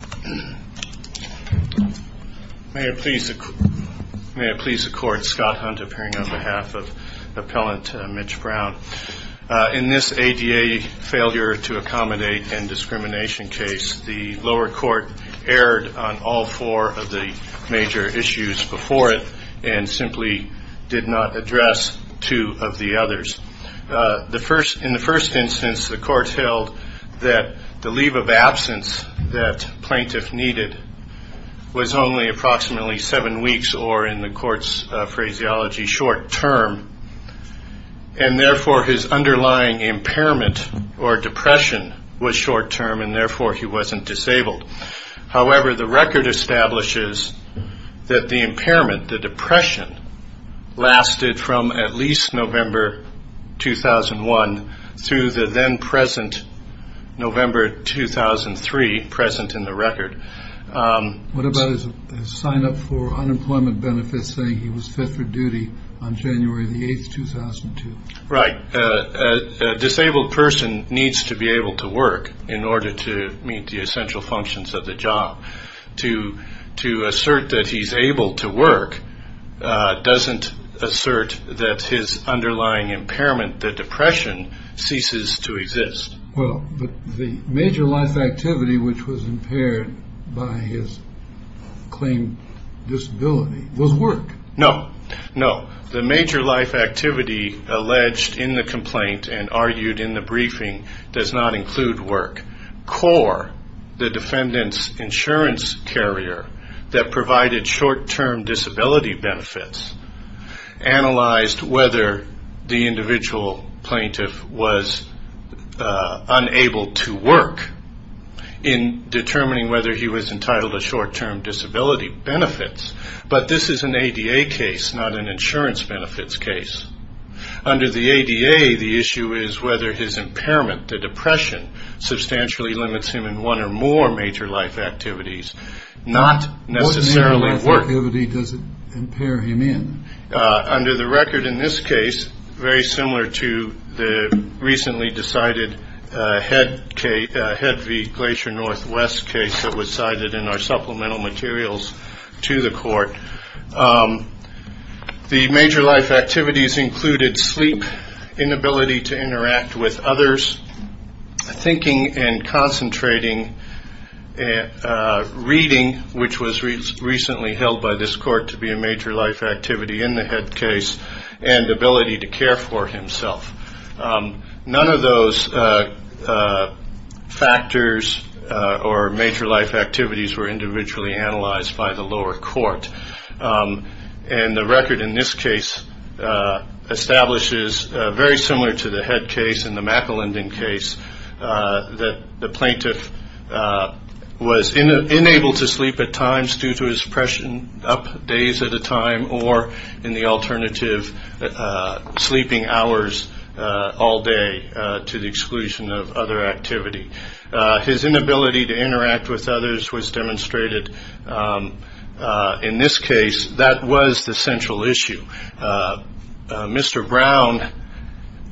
May it please the Court, Scott Hunt appearing on behalf of Appellant Mitch Brown. In this ADA failure to accommodate and discrimination case, the lower court erred on all four of the major issues before it and simply did not address two of the others. In the first instance the court held that the leave of absence that plaintiff needed was only approximately seven weeks or in the court's phraseology short term and therefore his underlying impairment or depression was short term and therefore he wasn't disabled. However, the record establishes that the impairment, the depression, lasted from at least November 2001 through the then present November 2003 present in the record. What about his sign up for unemployment benefits saying he was fit for duty on January 8, 2002? Right. A disabled person needs to be able to work in order to meet the essential functions of the job. To assert that he's able to work doesn't assert that his underlying impairment, the depression, ceases to exist. Well, the major life activity which was impaired by his claimed disability was work. No, no. The include work. CORE, the defendant's insurance carrier that provided short term disability benefits, analyzed whether the individual plaintiff was unable to work in determining whether he was entitled to short term disability benefits, but this is an ADA case, not an limits him in one or more major life activities. Not necessarily work. What major life activity does it impair him in? Under the record in this case, very similar to the recently decided Head v. Glacier Northwest case that was cited in our supplemental materials to the court, the major life activities included sleep, inability to interact with others, thinking and concentrating, reading, which was recently held by this court to be a major life activity in the head case, and ability to care for himself. None of those factors or major life activities. And the record in this case establishes, very similar to the head case and the McElindan case, that the plaintiff was unable to sleep at times due to his depression, up days at a time, or in the alternative, sleeping hours all day to the exclusion of other activity. His inability to interact with others was demonstrated in this case. That was the central issue. Mr. Brown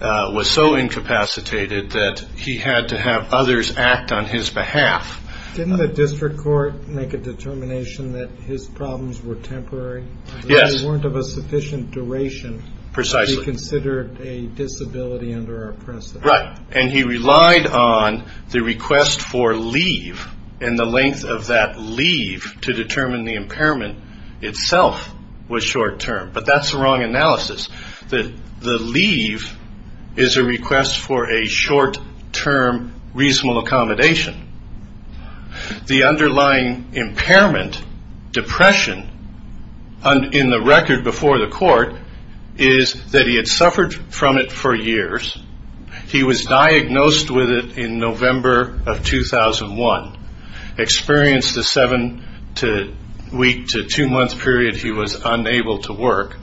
was so incapacitated that he had to have others act on his behalf. Didn't the district court make a determination that his problems were temporary? Yes. They weren't of a sufficient duration. Precisely. To be considered a disability under our precedent. He relied on the request for leave and the length of that leave to determine the impairment itself was short term. But that's the wrong analysis. The leave is a request for a short term reasonable accommodation. The underlying impairment, depression, in the record before the court, is that he had suffered from it for years. He was diagnosed with it in November of 2001. Experienced a seven week to two month period he was unable to work.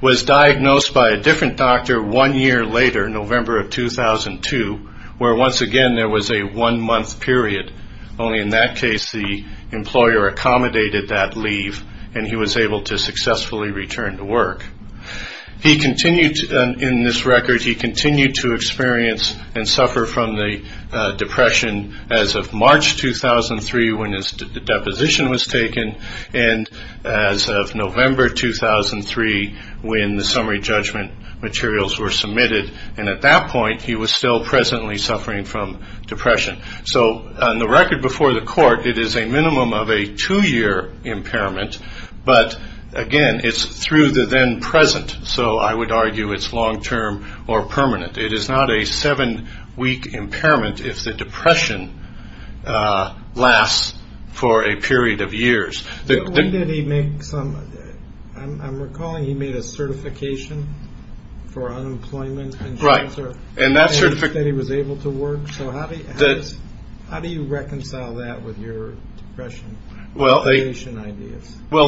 Was diagnosed by a different doctor one year later, November of 2002, where once again there was a one month period. Only in that case the employer accommodated that leave and he was able to return to work. In this record he continued to experience and suffer from the depression as of March 2003 when his deposition was taken and as of November 2003 when the summary judgment materials were submitted. At that point he was still presently suffering from depression. So on the record before the court it is a minimum of a two year impairment but again it's through the then present. So I would argue it's long term or permanent. It is not a seven week impairment if the depression lasts for a period of years. When did he make some, I'm recalling he made a certification for unemployment and he was able to work. So how do you reconcile that with your depression? Well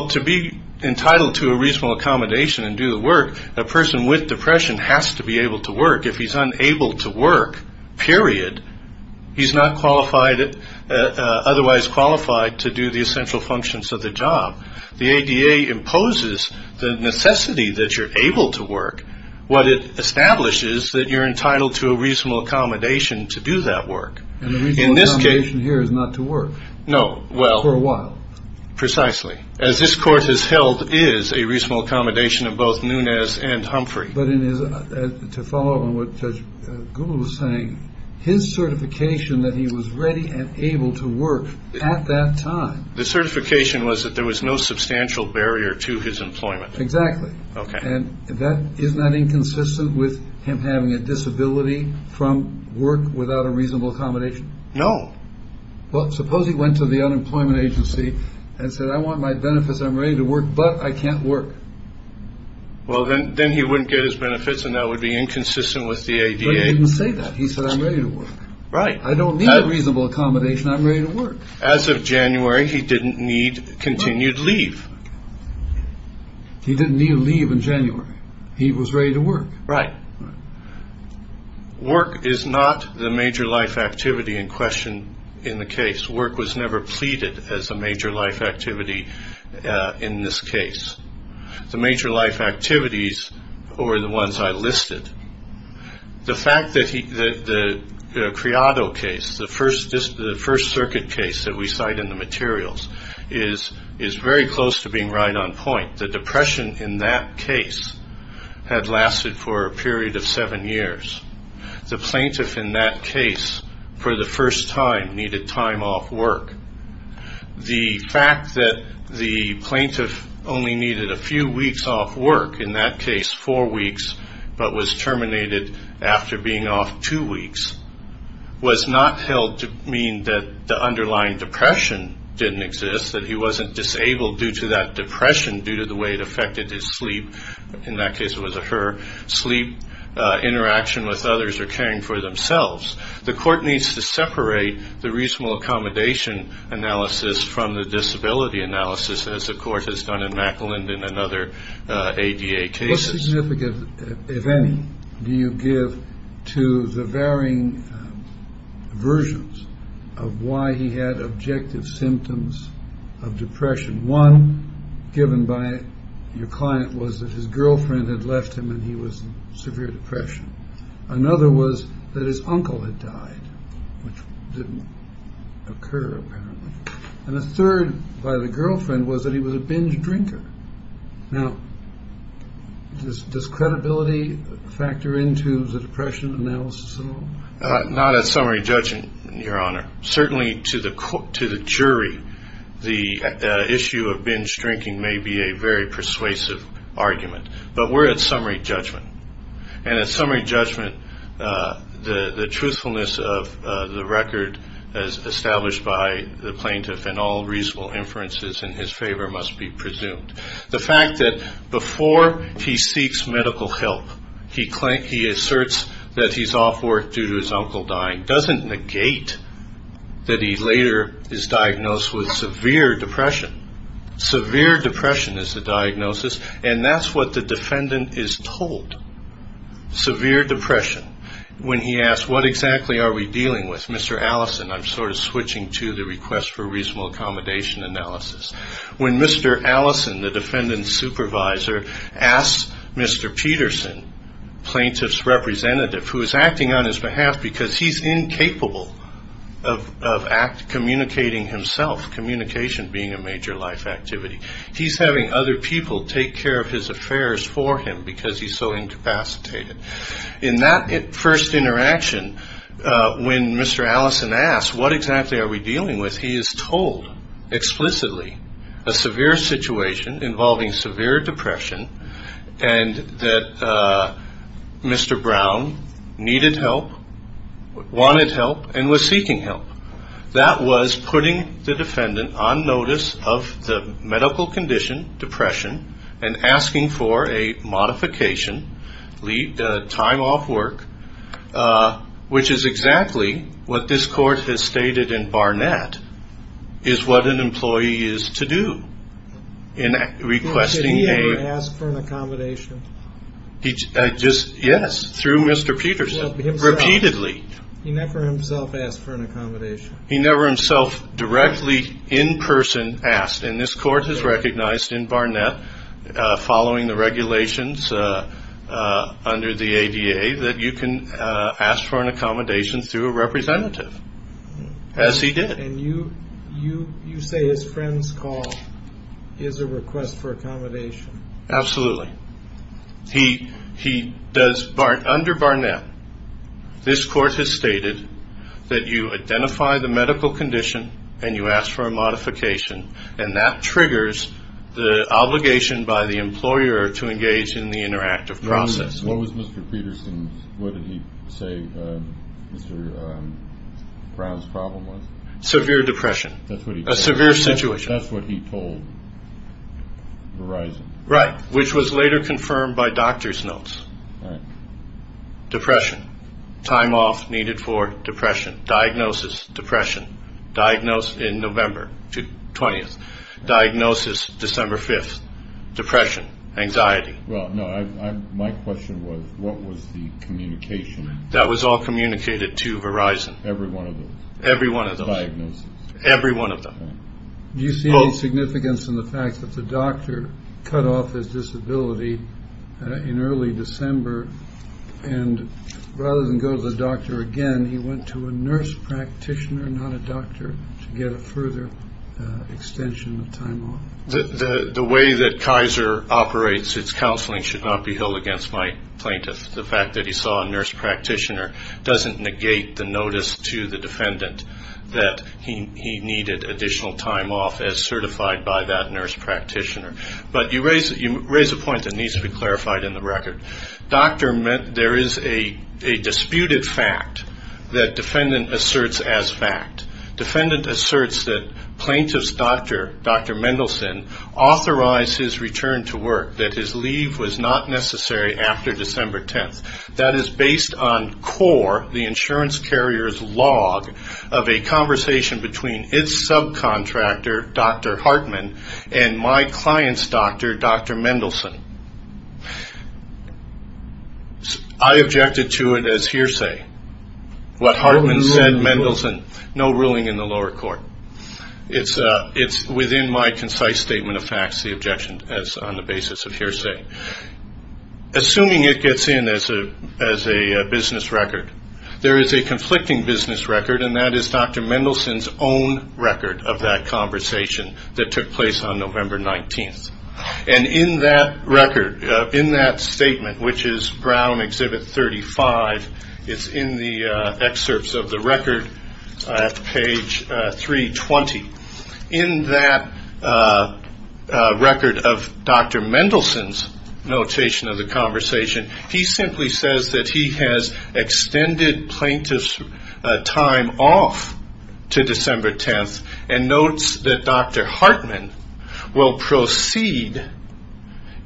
to be entitled to a reasonable accommodation and do the work, a person with depression has to be able to work. If he's unable to work, period, he's not qualified, otherwise qualified to do the essential functions of the job. The ADA imposes the necessity that you're able to work. What it establishes that you're entitled to a reasonable accommodation to do that work. And the reasonable accommodation here is not to work. No, well. For a while. Precisely. As this court has held is a reasonable accommodation of both Nunez and Humphrey. But to follow up on what Judge Gould was saying, his certification that he was ready and able to work at that time. The certification was that there was no substantial barrier to his ability to work. And isn't that inconsistent with him having a disability from work without a reasonable accommodation? No. Well suppose he went to the unemployment agency and said I want my benefits, I'm ready to work, but I can't work. Well then he wouldn't get his benefits and that would be inconsistent with the ADA. But he didn't say that, he said I'm ready to work. Right. I don't need a reasonable accommodation, I'm ready to work. As of January he didn't need continued leave. He didn't need leave in January. He was ready to work. Right. Work is not the major life activity in question in the case. Work was never pleaded as a major life activity in this case. The major life activities are the ones I listed. The fact that the Criado case, the first circuit case that we cite in the materials, is very close to being right on point. The depression in that case had lasted for a period of seven years. The plaintiff in that case, for the first time, needed time off work. The fact that the plaintiff only needed a few weeks off work, in that case four weeks, but was terminated after being off two weeks, was not held to mean that the underlying depression didn't exist, that he wasn't disabled due to that depression due to the way it affected his sleep, in that case it was her sleep, interaction with others, or caring for themselves. The court needs to separate the reasonable accommodation analysis from the disability analysis as the court has done in Macklin and other ADA cases. What significance, if any, do you give to the varying versions of why he had objective symptoms of depression? One, given by your client, was that his girlfriend had left him when he was in severe depression. Another was that his uncle had died, which didn't occur apparently. And a third, by the girlfriend, was that he was a binge drinker. Now, does credibility factor into the depression analysis at all? Not at summary judgment, your honor. Certainly to the jury, the issue of binge drinking may be a very persuasive argument, but we're at summary judgment. And at summary judgment, the truthfulness of the record as established by the plaintiff and all reasonable inferences in his favor must be presumed. The fact that before he seeks medical help, he asserts that he's off work due to his uncle dying doesn't negate that he later is diagnosed with severe depression. Severe depression is the diagnosis, and that's what the defendant is told. Severe depression. When he asks, what exactly are we dealing with, Mr. Allison, I'm sort of switching to the request for reasonable accommodation analysis. When Mr. Allison, the defendant's supervisor, asks Mr. Peterson, plaintiff's representative, who is acting on his behalf because he's incapable of communicating himself, communication being a major life activity. He's having other people take care of his affairs for him because he's so incapacitated. In that first interaction, when Mr. Allison asks, what exactly are we dealing with, he is told explicitly a severe situation involving severe depression, and that Mr. Brown needed help, wanted help, and was seeking help. That was putting the defendant on notice of the medical condition, depression, and asking for a modification, time off work, which is exactly what this court has stated in Barnett, is what an employee is to do in requesting a request for an accommodation. Did he ever ask for an accommodation? Yes, through Mr. Peterson, repeatedly. He never himself asked for an accommodation? He never himself directly in person asked, and this court has recognized in Barnett, following the regulations under the ADA, that you can ask for an accommodation through a representative, as he did. You say his friend's call is a request for accommodation? Absolutely. Under Barnett, this court has stated that you identify the medical condition, and you ask for a modification, and that triggers the obligation by the employer to engage in the interactive process. What was Mr. Peterson's, what did he say Mr. Brown's problem was? Severe depression. A severe situation. That's what he told Verizon. Right, which was later confirmed by doctor's notes. Depression, time off needed for depression, diagnosis depression, diagnosed in November 20th, diagnosis December 5th, depression, anxiety. My question was, what was the communication? That was all communicated to Verizon. Every one of those? Every one of those. Diagnosis. Every one of them. Do you see any significance in the fact that the doctor cut off his disability in early December, and rather than go to the doctor again, he went to a nurse practitioner, not a plaintiff? The fact that the doctor operates his counseling should not be held against my plaintiff. The fact that he saw a nurse practitioner doesn't negate the notice to the defendant that he needed additional time off as certified by that nurse practitioner. But you raise a point that needs to be clarified in the record. There is a disputed fact that defendant asserts as fact. Defendant asserts that plaintiff's doctor, Dr. Mendelson, authorized his return to work, that his leave was not necessary after December 10th. That is based on core, the insurance carrier's log of a conversation between its subcontractor, Dr. Hartman, and my client's doctor, Dr. Mendelson. I objected to it as hearsay. What Hartman said, Mendelson, no ruling in the lower court. It's within my concise statement of facts the objection is on the basis of hearsay. Assuming it gets in as a business record, there is a conflicting business record, and that is Dr. Mendelson's own record of that conversation that took place on November 19th. And in that record, in that statement, which is Brown Exhibit 35, it's in the excerpts of the record at page 320. In that record, of Dr. Mendelson's notation of the conversation, he simply says that he has extended plaintiff's time off to December 10th, and notes that Dr. Hartman will proceed.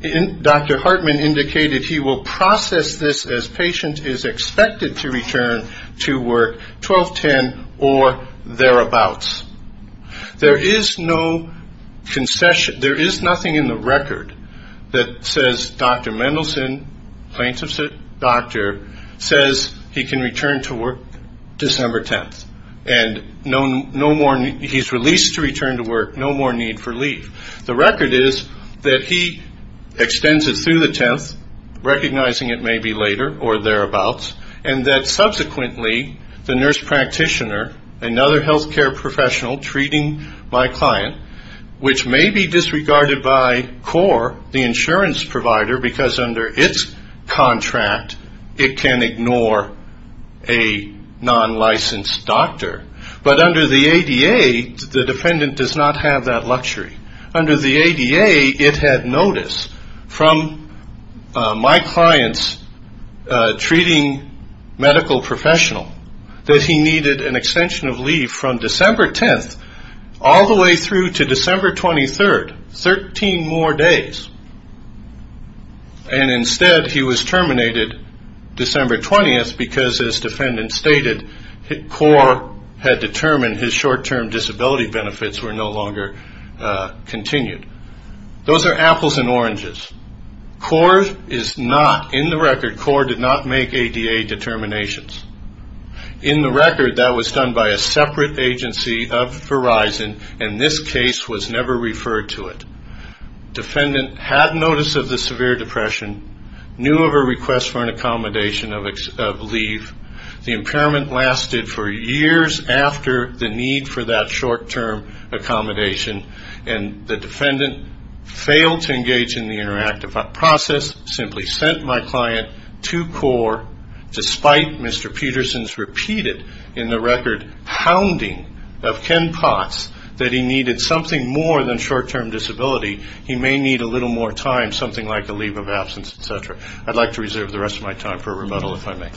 Dr. Hartman indicated he will process this as patient is expected to return to work 12-10 or thereabouts. There is no concession, there is nothing in the record that says Dr. Mendelson, plaintiff's doctor, says he can return to work December 10th. And no more, he's released to return to work, no more need for leave. The record is that he extends it through the 10th, recognizing it may be later or thereabouts, and that subsequently, the nurse practitioner, another health care professional, treating my client, which may be disregarded by CORE, the insurance provider, because under its contract, it can ignore a non-licensed doctor. But under the ADA, the defendant does not have that luxury. Under the ADA, it had notice from my client's treating medical professional that he needed an extension of leave from December 10th all the way through to December 23rd, 13 more days. And instead, he was terminated December 20th, because as defendant stated, CORE had determined his short-term disability benefits were no longer continued. Those are apples and oranges. CORE is not, in the record, CORE did not make ADA determinations. In the record, that was done by a separate agency of Verizon, and this case was never referred to it. Defendant had notice of the severe depression, knew of a request for an accommodation of leave. The impairment lasted for years after the need for that short-term accommodation, and the defendant failed to engage in the interactive process, simply sent my client to CORE, despite Mr. Peterson's repeated, in the record, hounding of Ken Potts that he needed something more than short-term disability. He may need a little more time, something like a leave of absence, et cetera. I'd like to reserve the rest of my time for rebuttal, if I may.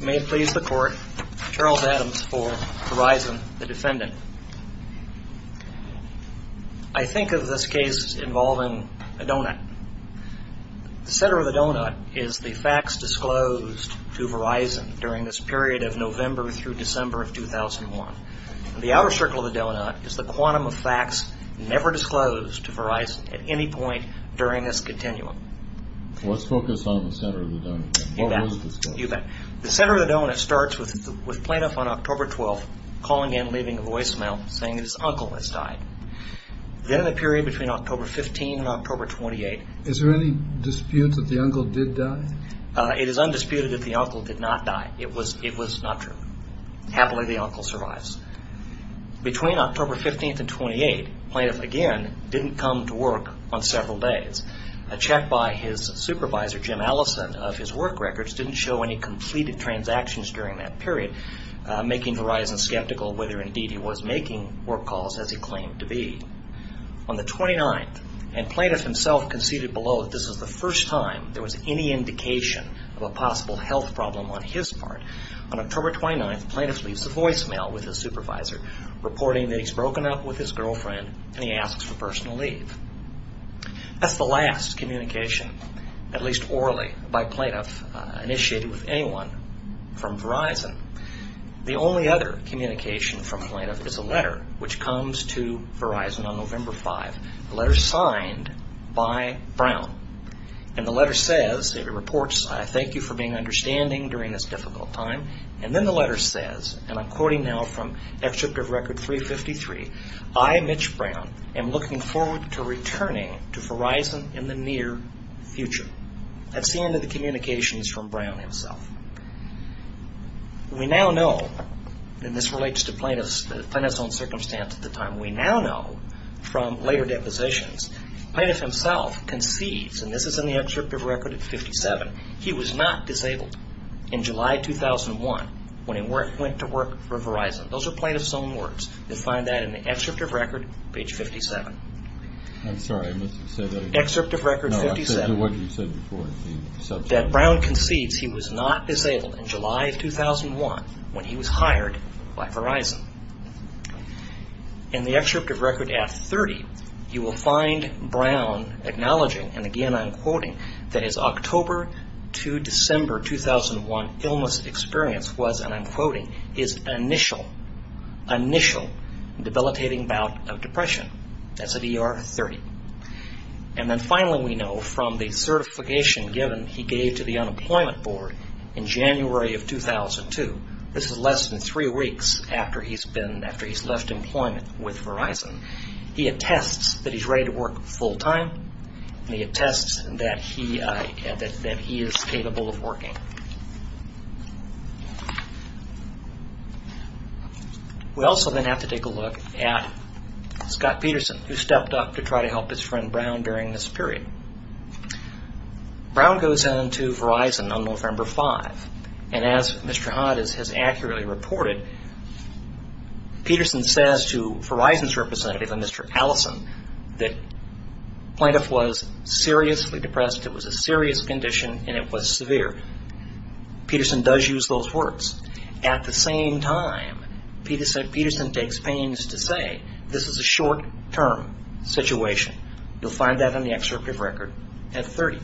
May it please the Court, Charles Adams for Verizon, the defendant. I think of this case involving a donut. The center of the donut is the facts disclosed to Verizon during this period of November through December of 2001. The outer circle of the donut is the quantum of facts never disclosed to Verizon at any point during this continuum. Let's focus on the center of the donut. You bet. The center of the donut starts with plaintiff on October 12th calling in, leaving a voicemail saying his uncle has died. Then in the period between October 15th and October 28th... Is there any dispute that the uncle did die? It is undisputed that the uncle did not die. It was not true. Happily, the uncle survives. Between October 15th and 28th, plaintiff again didn't come to work on several days. A check by his supervisor, Jim Allison, of his work records didn't show any completed transactions during that period, making Verizon skeptical whether indeed he was making work calls as he claimed to be. On the 29th, and plaintiff himself conceded below that this was the first time there was any indication of a possible health problem on his part, on October 29th with his supervisor, reporting that he's broken up with his girlfriend and he asks for personal leave. That's the last communication, at least orally, by plaintiff initiated with anyone from Verizon. The only other communication from plaintiff is a letter which comes to Verizon on November 5th, a letter signed by Brown. And the letter says, it reports, I thank you for being understanding during this difficult time. And then the letter says, and I'm quoting now from Excerpt of Record 353, I, Mitch Brown, am looking forward to returning to Verizon in the near future. That's the end of the communications from Brown himself. We now know, and this relates to plaintiff's own circumstance at the time, we now know from later depositions, plaintiff himself concedes, and this is in the Excerpt of Record 57, he was not disabled in July 2001 when he went to work for Verizon. Those are plaintiff's own words. You'll find that in the Excerpt of Record, page 57. I'm sorry, I must have said that again. Excerpt of Record 57. No, I said what you said before. That Brown concedes he was not disabled in July of 2001 when he was hired by Verizon. In the Excerpt of Record at 30, you will find Brown acknowledging, and again I'm quoting, that his October to December 2001 illness experience was, and I'm quoting, his initial, initial debilitating bout of depression. That's at ER 30. And then finally we know from the certification given he gave to the Unemployment Board in January of 2002, this is less than three weeks after he's been, after he's left employment with Verizon, he attests that he's ready to work full time, and he attests that he, that he is capable of working. We also then have to take a look at Scott Peterson, who stepped up to try to help his And as Mr. Hod has accurately reported, Peterson says to Verizon's representative, Mr. Allison, that plaintiff was seriously depressed, it was a serious condition, and it was severe. Peterson does use those words. At the same time, Peterson takes pains to say this is a short-term situation. You'll find that in the Excerpt of Record at 30.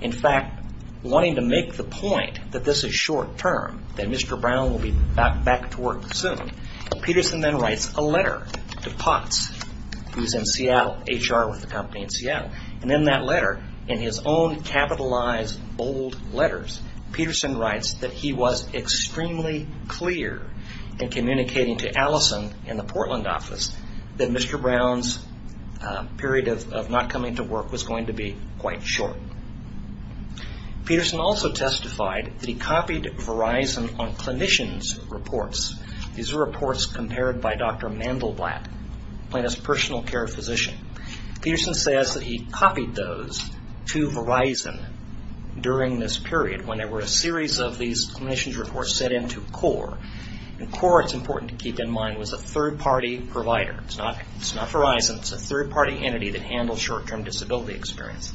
In fact, wanting to make the point that this is short-term, that Mr. Brown will be back to work soon, Peterson then writes a letter to Potts, who's in Seattle, HR with the company in Seattle, and in that letter, in his own capitalized bold letters, Peterson writes that he was extremely clear in communicating to Allison in the Portland office that Mr. Brown's period of not coming to work was going to be quite short. Peterson also testified that he copied Verizon on clinicians' reports. These are reports compared by Dr. Mandelblatt, Plaintiff's personal care physician. Peterson says that he copied those to Verizon during this period when there were a series of these clinicians' reports sent in to CORE, and CORE, it's important to keep in mind, was a third-party provider. It's not Verizon. It's a third-party entity that handles short-term disability experience.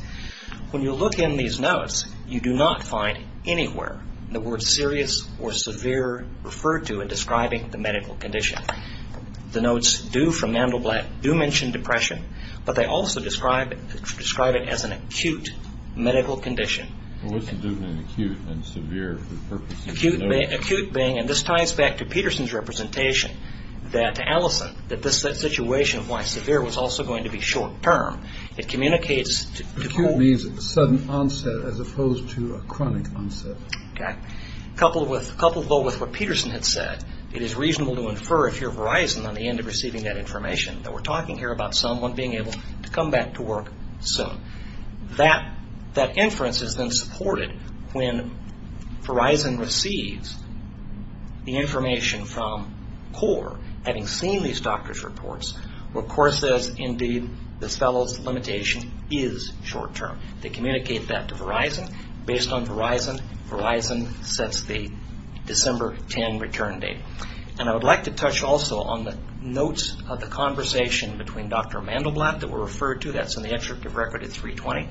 When you look in these notes, you do not find anywhere the word serious or severe referred to in describing the medical condition. The notes do, from Mandelblatt, do mention depression, but they also describe it as an acute medical condition. What's the difference between acute and severe? Acute being, and this ties back to Peterson's representation, that Allison, that this situation, why severe, was also going to be short-term. It communicates to CORE. Acute means sudden onset as opposed to a chronic onset. Coupled, though, with what Peterson had said, it is reasonable to infer, if you're Verizon, on the end of receiving that information, that we're talking here about someone being able to come back to work soon. That inference is then supported when Verizon receives the information from CORE, having seen these doctors' reports, where CORE says, indeed, this fellow's limitation is short-term. They communicate that to Verizon. Based on Verizon, Verizon sets the December 10 return date. And I would like to touch also on the notes of the conversation between Dr. Mandelblatt that were referred to. That's in the Extractive Record at 320.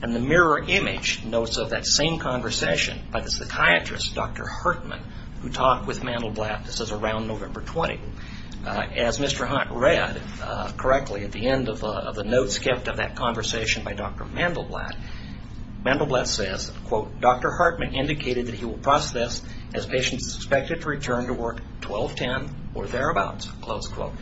And the mirror image notes of that same conversation by the psychiatrist, Dr. Hartman, who talked with Mandelblatt. This is around November 20. As Mr. Hunt read correctly at the end of the notes kept of that conversation by Dr. Mandelblatt, Mandelblatt says, quote, Dr. Hartman indicated that he will process this as patients expected to return to work 12-10 or thereabouts, close quote.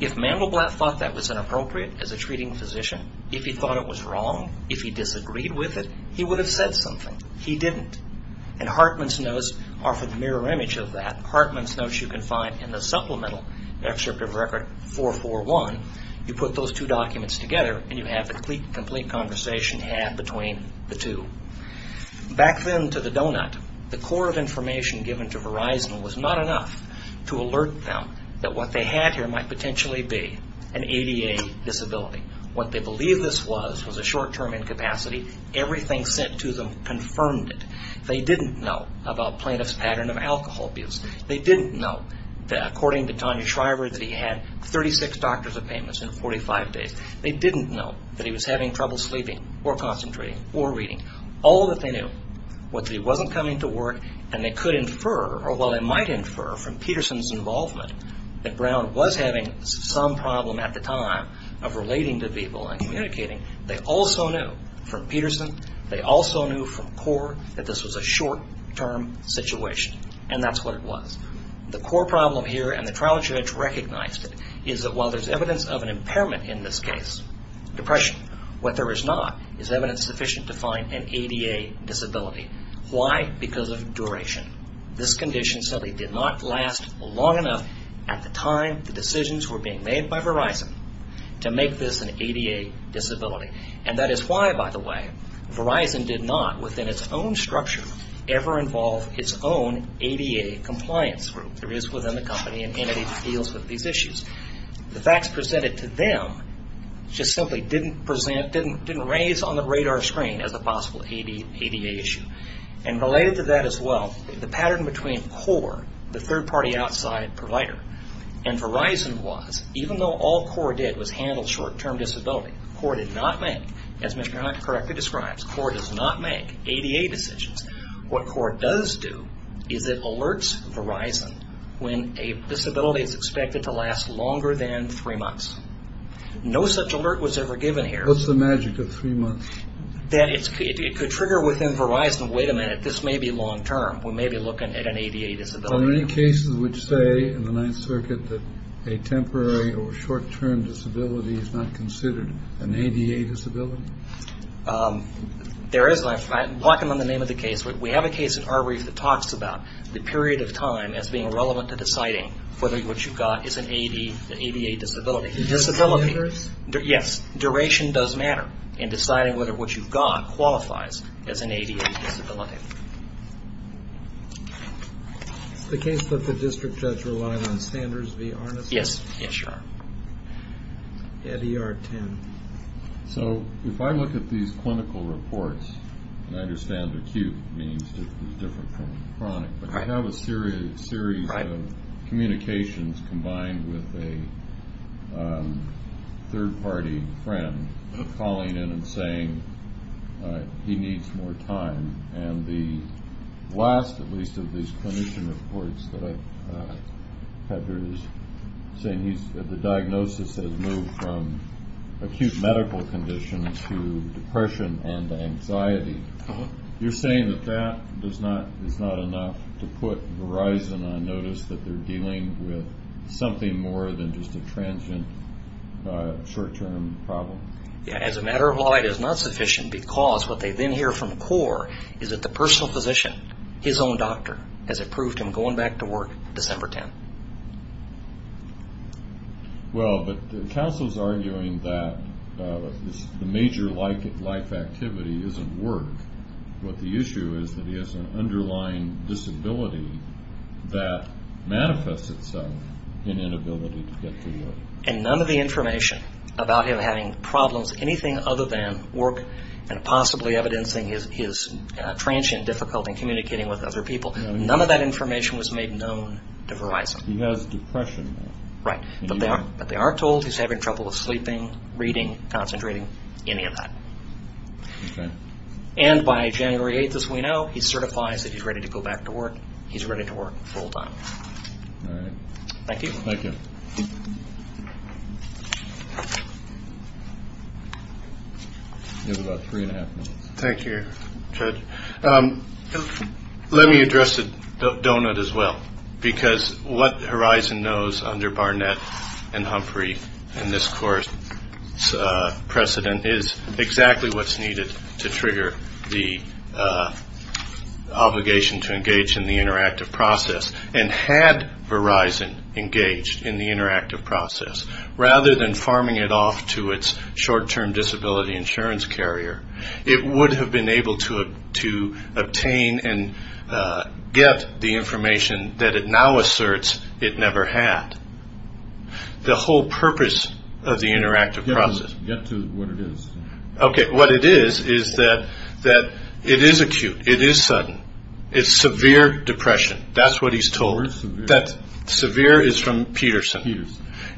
If Mandelblatt thought that was inappropriate as a treating physician, if he thought it was wrong, if he disagreed with it, he would have said something. He didn't. And Hartman's notes offer the mirror image of that. Hartman's notes you can find in the supplemental Extractive Record 441. You put those two documents together, and you have the complete conversation had between the two. Back then to the donut, the core of information given to Verizon was not enough to alert them that what they had here might potentially be an ADA disability. What they believed this was was a short-term incapacity. Everything sent to them confirmed it. They didn't know about plaintiff's pattern of alcohol abuse. They didn't know, according to Tanya Shriver, that he had 36 doctor's appointments in 45 days. They didn't know that he was having trouble sleeping or concentrating or reading. All that they knew was that he wasn't coming to work, and they could infer, or well, they might infer from Peterson's involvement that Brown was having some problem at the time of relating to people and communicating. They also knew from Peterson. They also knew from Core that this was a short-term situation, and that's what it was. The Core problem here, and the trial judge recognized it, is that while there's evidence of an impairment in this case, depression, what there is not is evidence sufficient to find an ADA disability. Why? Because of duration. This condition simply did not last long enough at the time the decisions were being made by Verizon to make this an ADA disability. And that is why, by the way, Verizon did not, within its own structure, ever involve its own ADA compliance group. There is within the company an entity that deals with these issues. The facts presented to them just simply didn't present, didn't raise on the radar screen as a possible ADA issue. And related to that as well, the pattern between Core, the third-party outside provider, and Verizon was, even though all Core did was handle short-term disability, Core did not make, as Mr. Hunt correctly describes, Core does not make ADA decisions. What Core does do is it alerts Verizon when a disability is expected to last longer than three months. No such alert was ever given here. What's the magic of three months? That it could trigger within Verizon, wait a minute, this may be long-term. We may be looking at an ADA disability. Are there any cases which say in the Ninth Circuit that a temporary or short-term disability is not considered an ADA disability? There is, and I walk them on the name of the case. We have a case in our brief that talks about the period of time as being relevant to deciding whether what you've got is an ADA disability. Duration matters? Yes. Duration does matter in deciding whether what you've got qualifies as an ADA disability. Is the case that the district judge relied on standards via harness? Yes. At ER 10. So if I look at these clinical reports, and I understand acute means it's different from chronic, but you have a series of communications combined with a third-party friend calling in and saying he needs more time. And the last, at least, of these clinician reports that I have here is saying the diagnosis has moved from acute medical conditions to depression and anxiety. You're saying that that is not enough to put Verizon on notice that they're dealing with something more than just a transient short-term problem? As a matter of law, it is not sufficient because what they then hear from CORE is that the personal physician, his own doctor, has approved him going back to work December 10. Well, but counsel's arguing that the major life activity isn't work, but the issue is that he has an underlying disability that manifests itself in inability to get to work. And none of the information about him having problems, anything other than work and possibly evidencing his transient difficulty in communicating with other people, none of that information was made known to Verizon. He has depression. Right, but they are told he's having trouble with sleeping, reading, concentrating, any of that. Okay. And by January 8, as we know, he certifies that he's ready to go back to work. He's ready to work full-time. All right. Thank you. Thank you. You have about three and a half minutes. Thank you, Judge. Let me address the donut as well, because what Verizon knows under Barnett and Humphrey and this CORE's precedent is exactly what's needed to trigger the obligation to engage in the interactive process. And had Verizon engaged in the interactive process, rather than farming it off to its short-term disability insurance carrier, it would have been able to obtain and get the information that it now asserts it never had. The whole purpose of the interactive process. Get to what it is. Okay. What it is is that it is acute. It is sudden. It's severe depression. That's what he's told. Where's severe? Severe is from Peterson.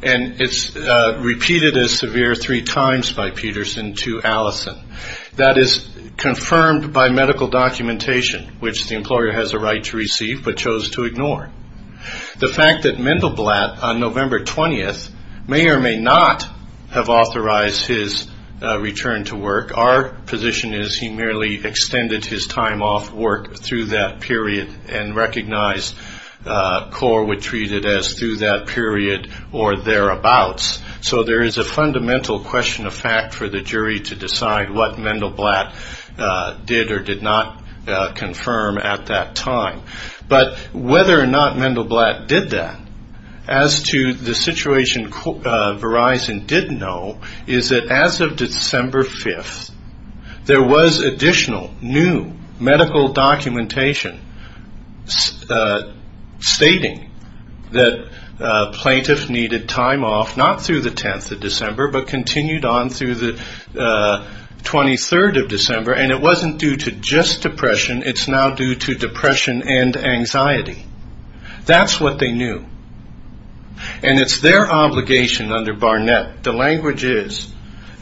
And it's repeated as severe three times by Peterson to Allison. That is confirmed by medical documentation, which the employer has a right to receive but chose to ignore. The fact that Mendelblatt, on November 20th, may or may not have authorized his return to work, our position is he merely extended his time off work through that period and recognized CORE would treat it as through that period or thereabouts. So there is a fundamental question of fact for the jury to decide what Mendelblatt did or did not confirm at that time. But whether or not Mendelblatt did that, as to the situation Verizon didn't know, is that as of December 5th, there was additional new medical documentation stating that plaintiffs needed time off not through the 10th of December but continued on through the 23rd of December. And it wasn't due to just depression. It's now due to depression and anxiety. That's what they knew. And it's their obligation under Barnett, the language is,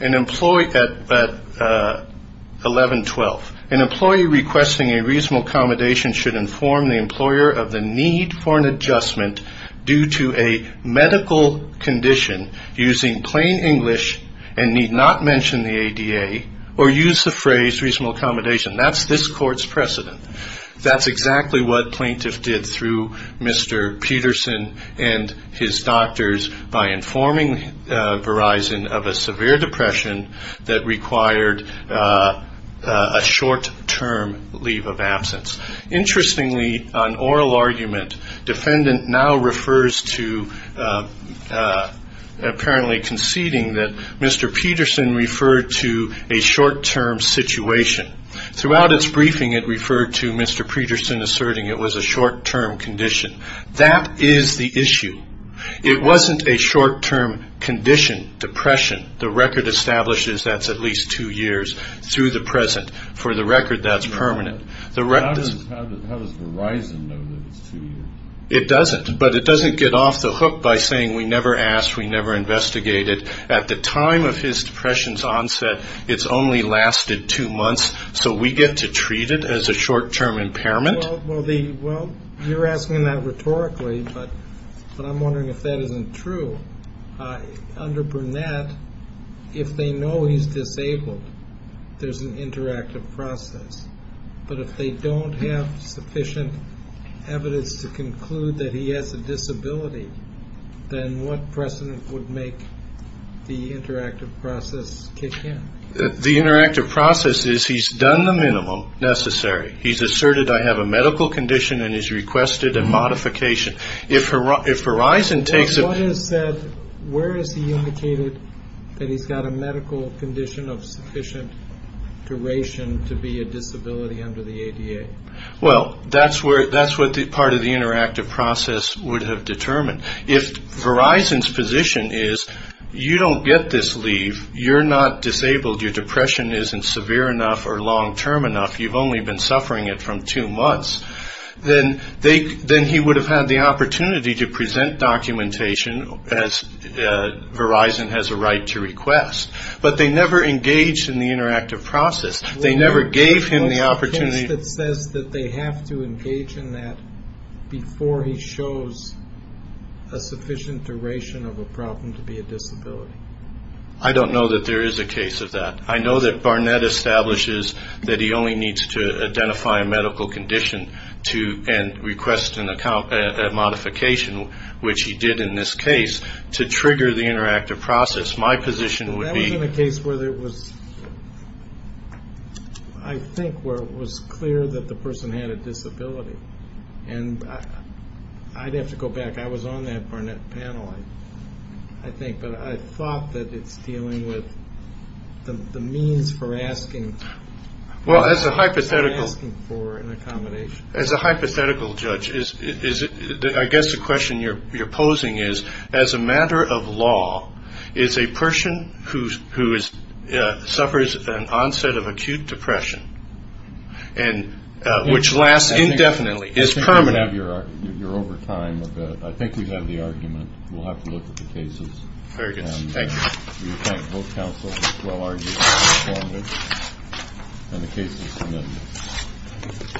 at 11-12, an employee requesting a reasonable accommodation should inform the employer of the need for an adjustment due to a medical condition using plain English and need not mention the ADA or use the phrase reasonable accommodation. That's this court's precedent. That's exactly what plaintiffs did through Mr. Peterson and his doctors by informing Verizon of a severe depression that required a short-term leave of absence. Interestingly, on oral argument, defendant now refers to apparently conceding that Mr. Peterson referred to a short-term situation. Throughout its briefing, it referred to Mr. Peterson asserting it was a short-term condition. That is the issue. It wasn't a short-term condition, depression. The record establishes that's at least two years through the present. For the record, that's permanent. How does Verizon know that it's two years? It doesn't. But it doesn't get off the hook by saying we never asked, we never investigated. At the time of his depression's onset, it's only lasted two months, so we get to treat it as a short-term impairment? Well, you're asking that rhetorically, but I'm wondering if that isn't true. Under Burnett, if they know he's disabled, there's an interactive process. But if they don't have sufficient evidence to conclude that he has a disability, then what precedent would make the interactive process kick in? The interactive process is he's done the minimum necessary. He's asserted, I have a medical condition, and he's requested a modification. If Verizon takes it. But what is that? Where is he indicated that he's got a medical condition of sufficient duration to be a disability under the ADA? Well, that's what part of the interactive process would have determined. If Verizon's position is you don't get this leave, you're not disabled, your depression isn't severe enough or long-term enough, you've only been suffering it from two months, then he would have had the opportunity to present documentation as Verizon has a right to request. But they never engaged in the interactive process. They never gave him the opportunity. What's the case that says that they have to engage in that before he shows a sufficient duration of a problem to be a disability? I don't know that there is a case of that. I know that Barnett establishes that he only needs to identify a medical condition and request a modification, which he did in this case, to trigger the interactive process. My position would be. That was in a case where it was, I think, where it was clear that the person had a disability. And I'd have to go back. I was on that Barnett panel, I think. But I thought that it's dealing with the means for asking. Well, as a hypothetical. Asking for an accommodation. As a hypothetical, Judge, I guess the question you're posing is, as a matter of law, is a person who suffers an onset of acute depression, which lasts indefinitely, is permanent. You're over time with that. I think we have the argument. We'll have to look at the cases. Very good. Thank you. We thank both counsel for this well-argued argument. And the case is submitted.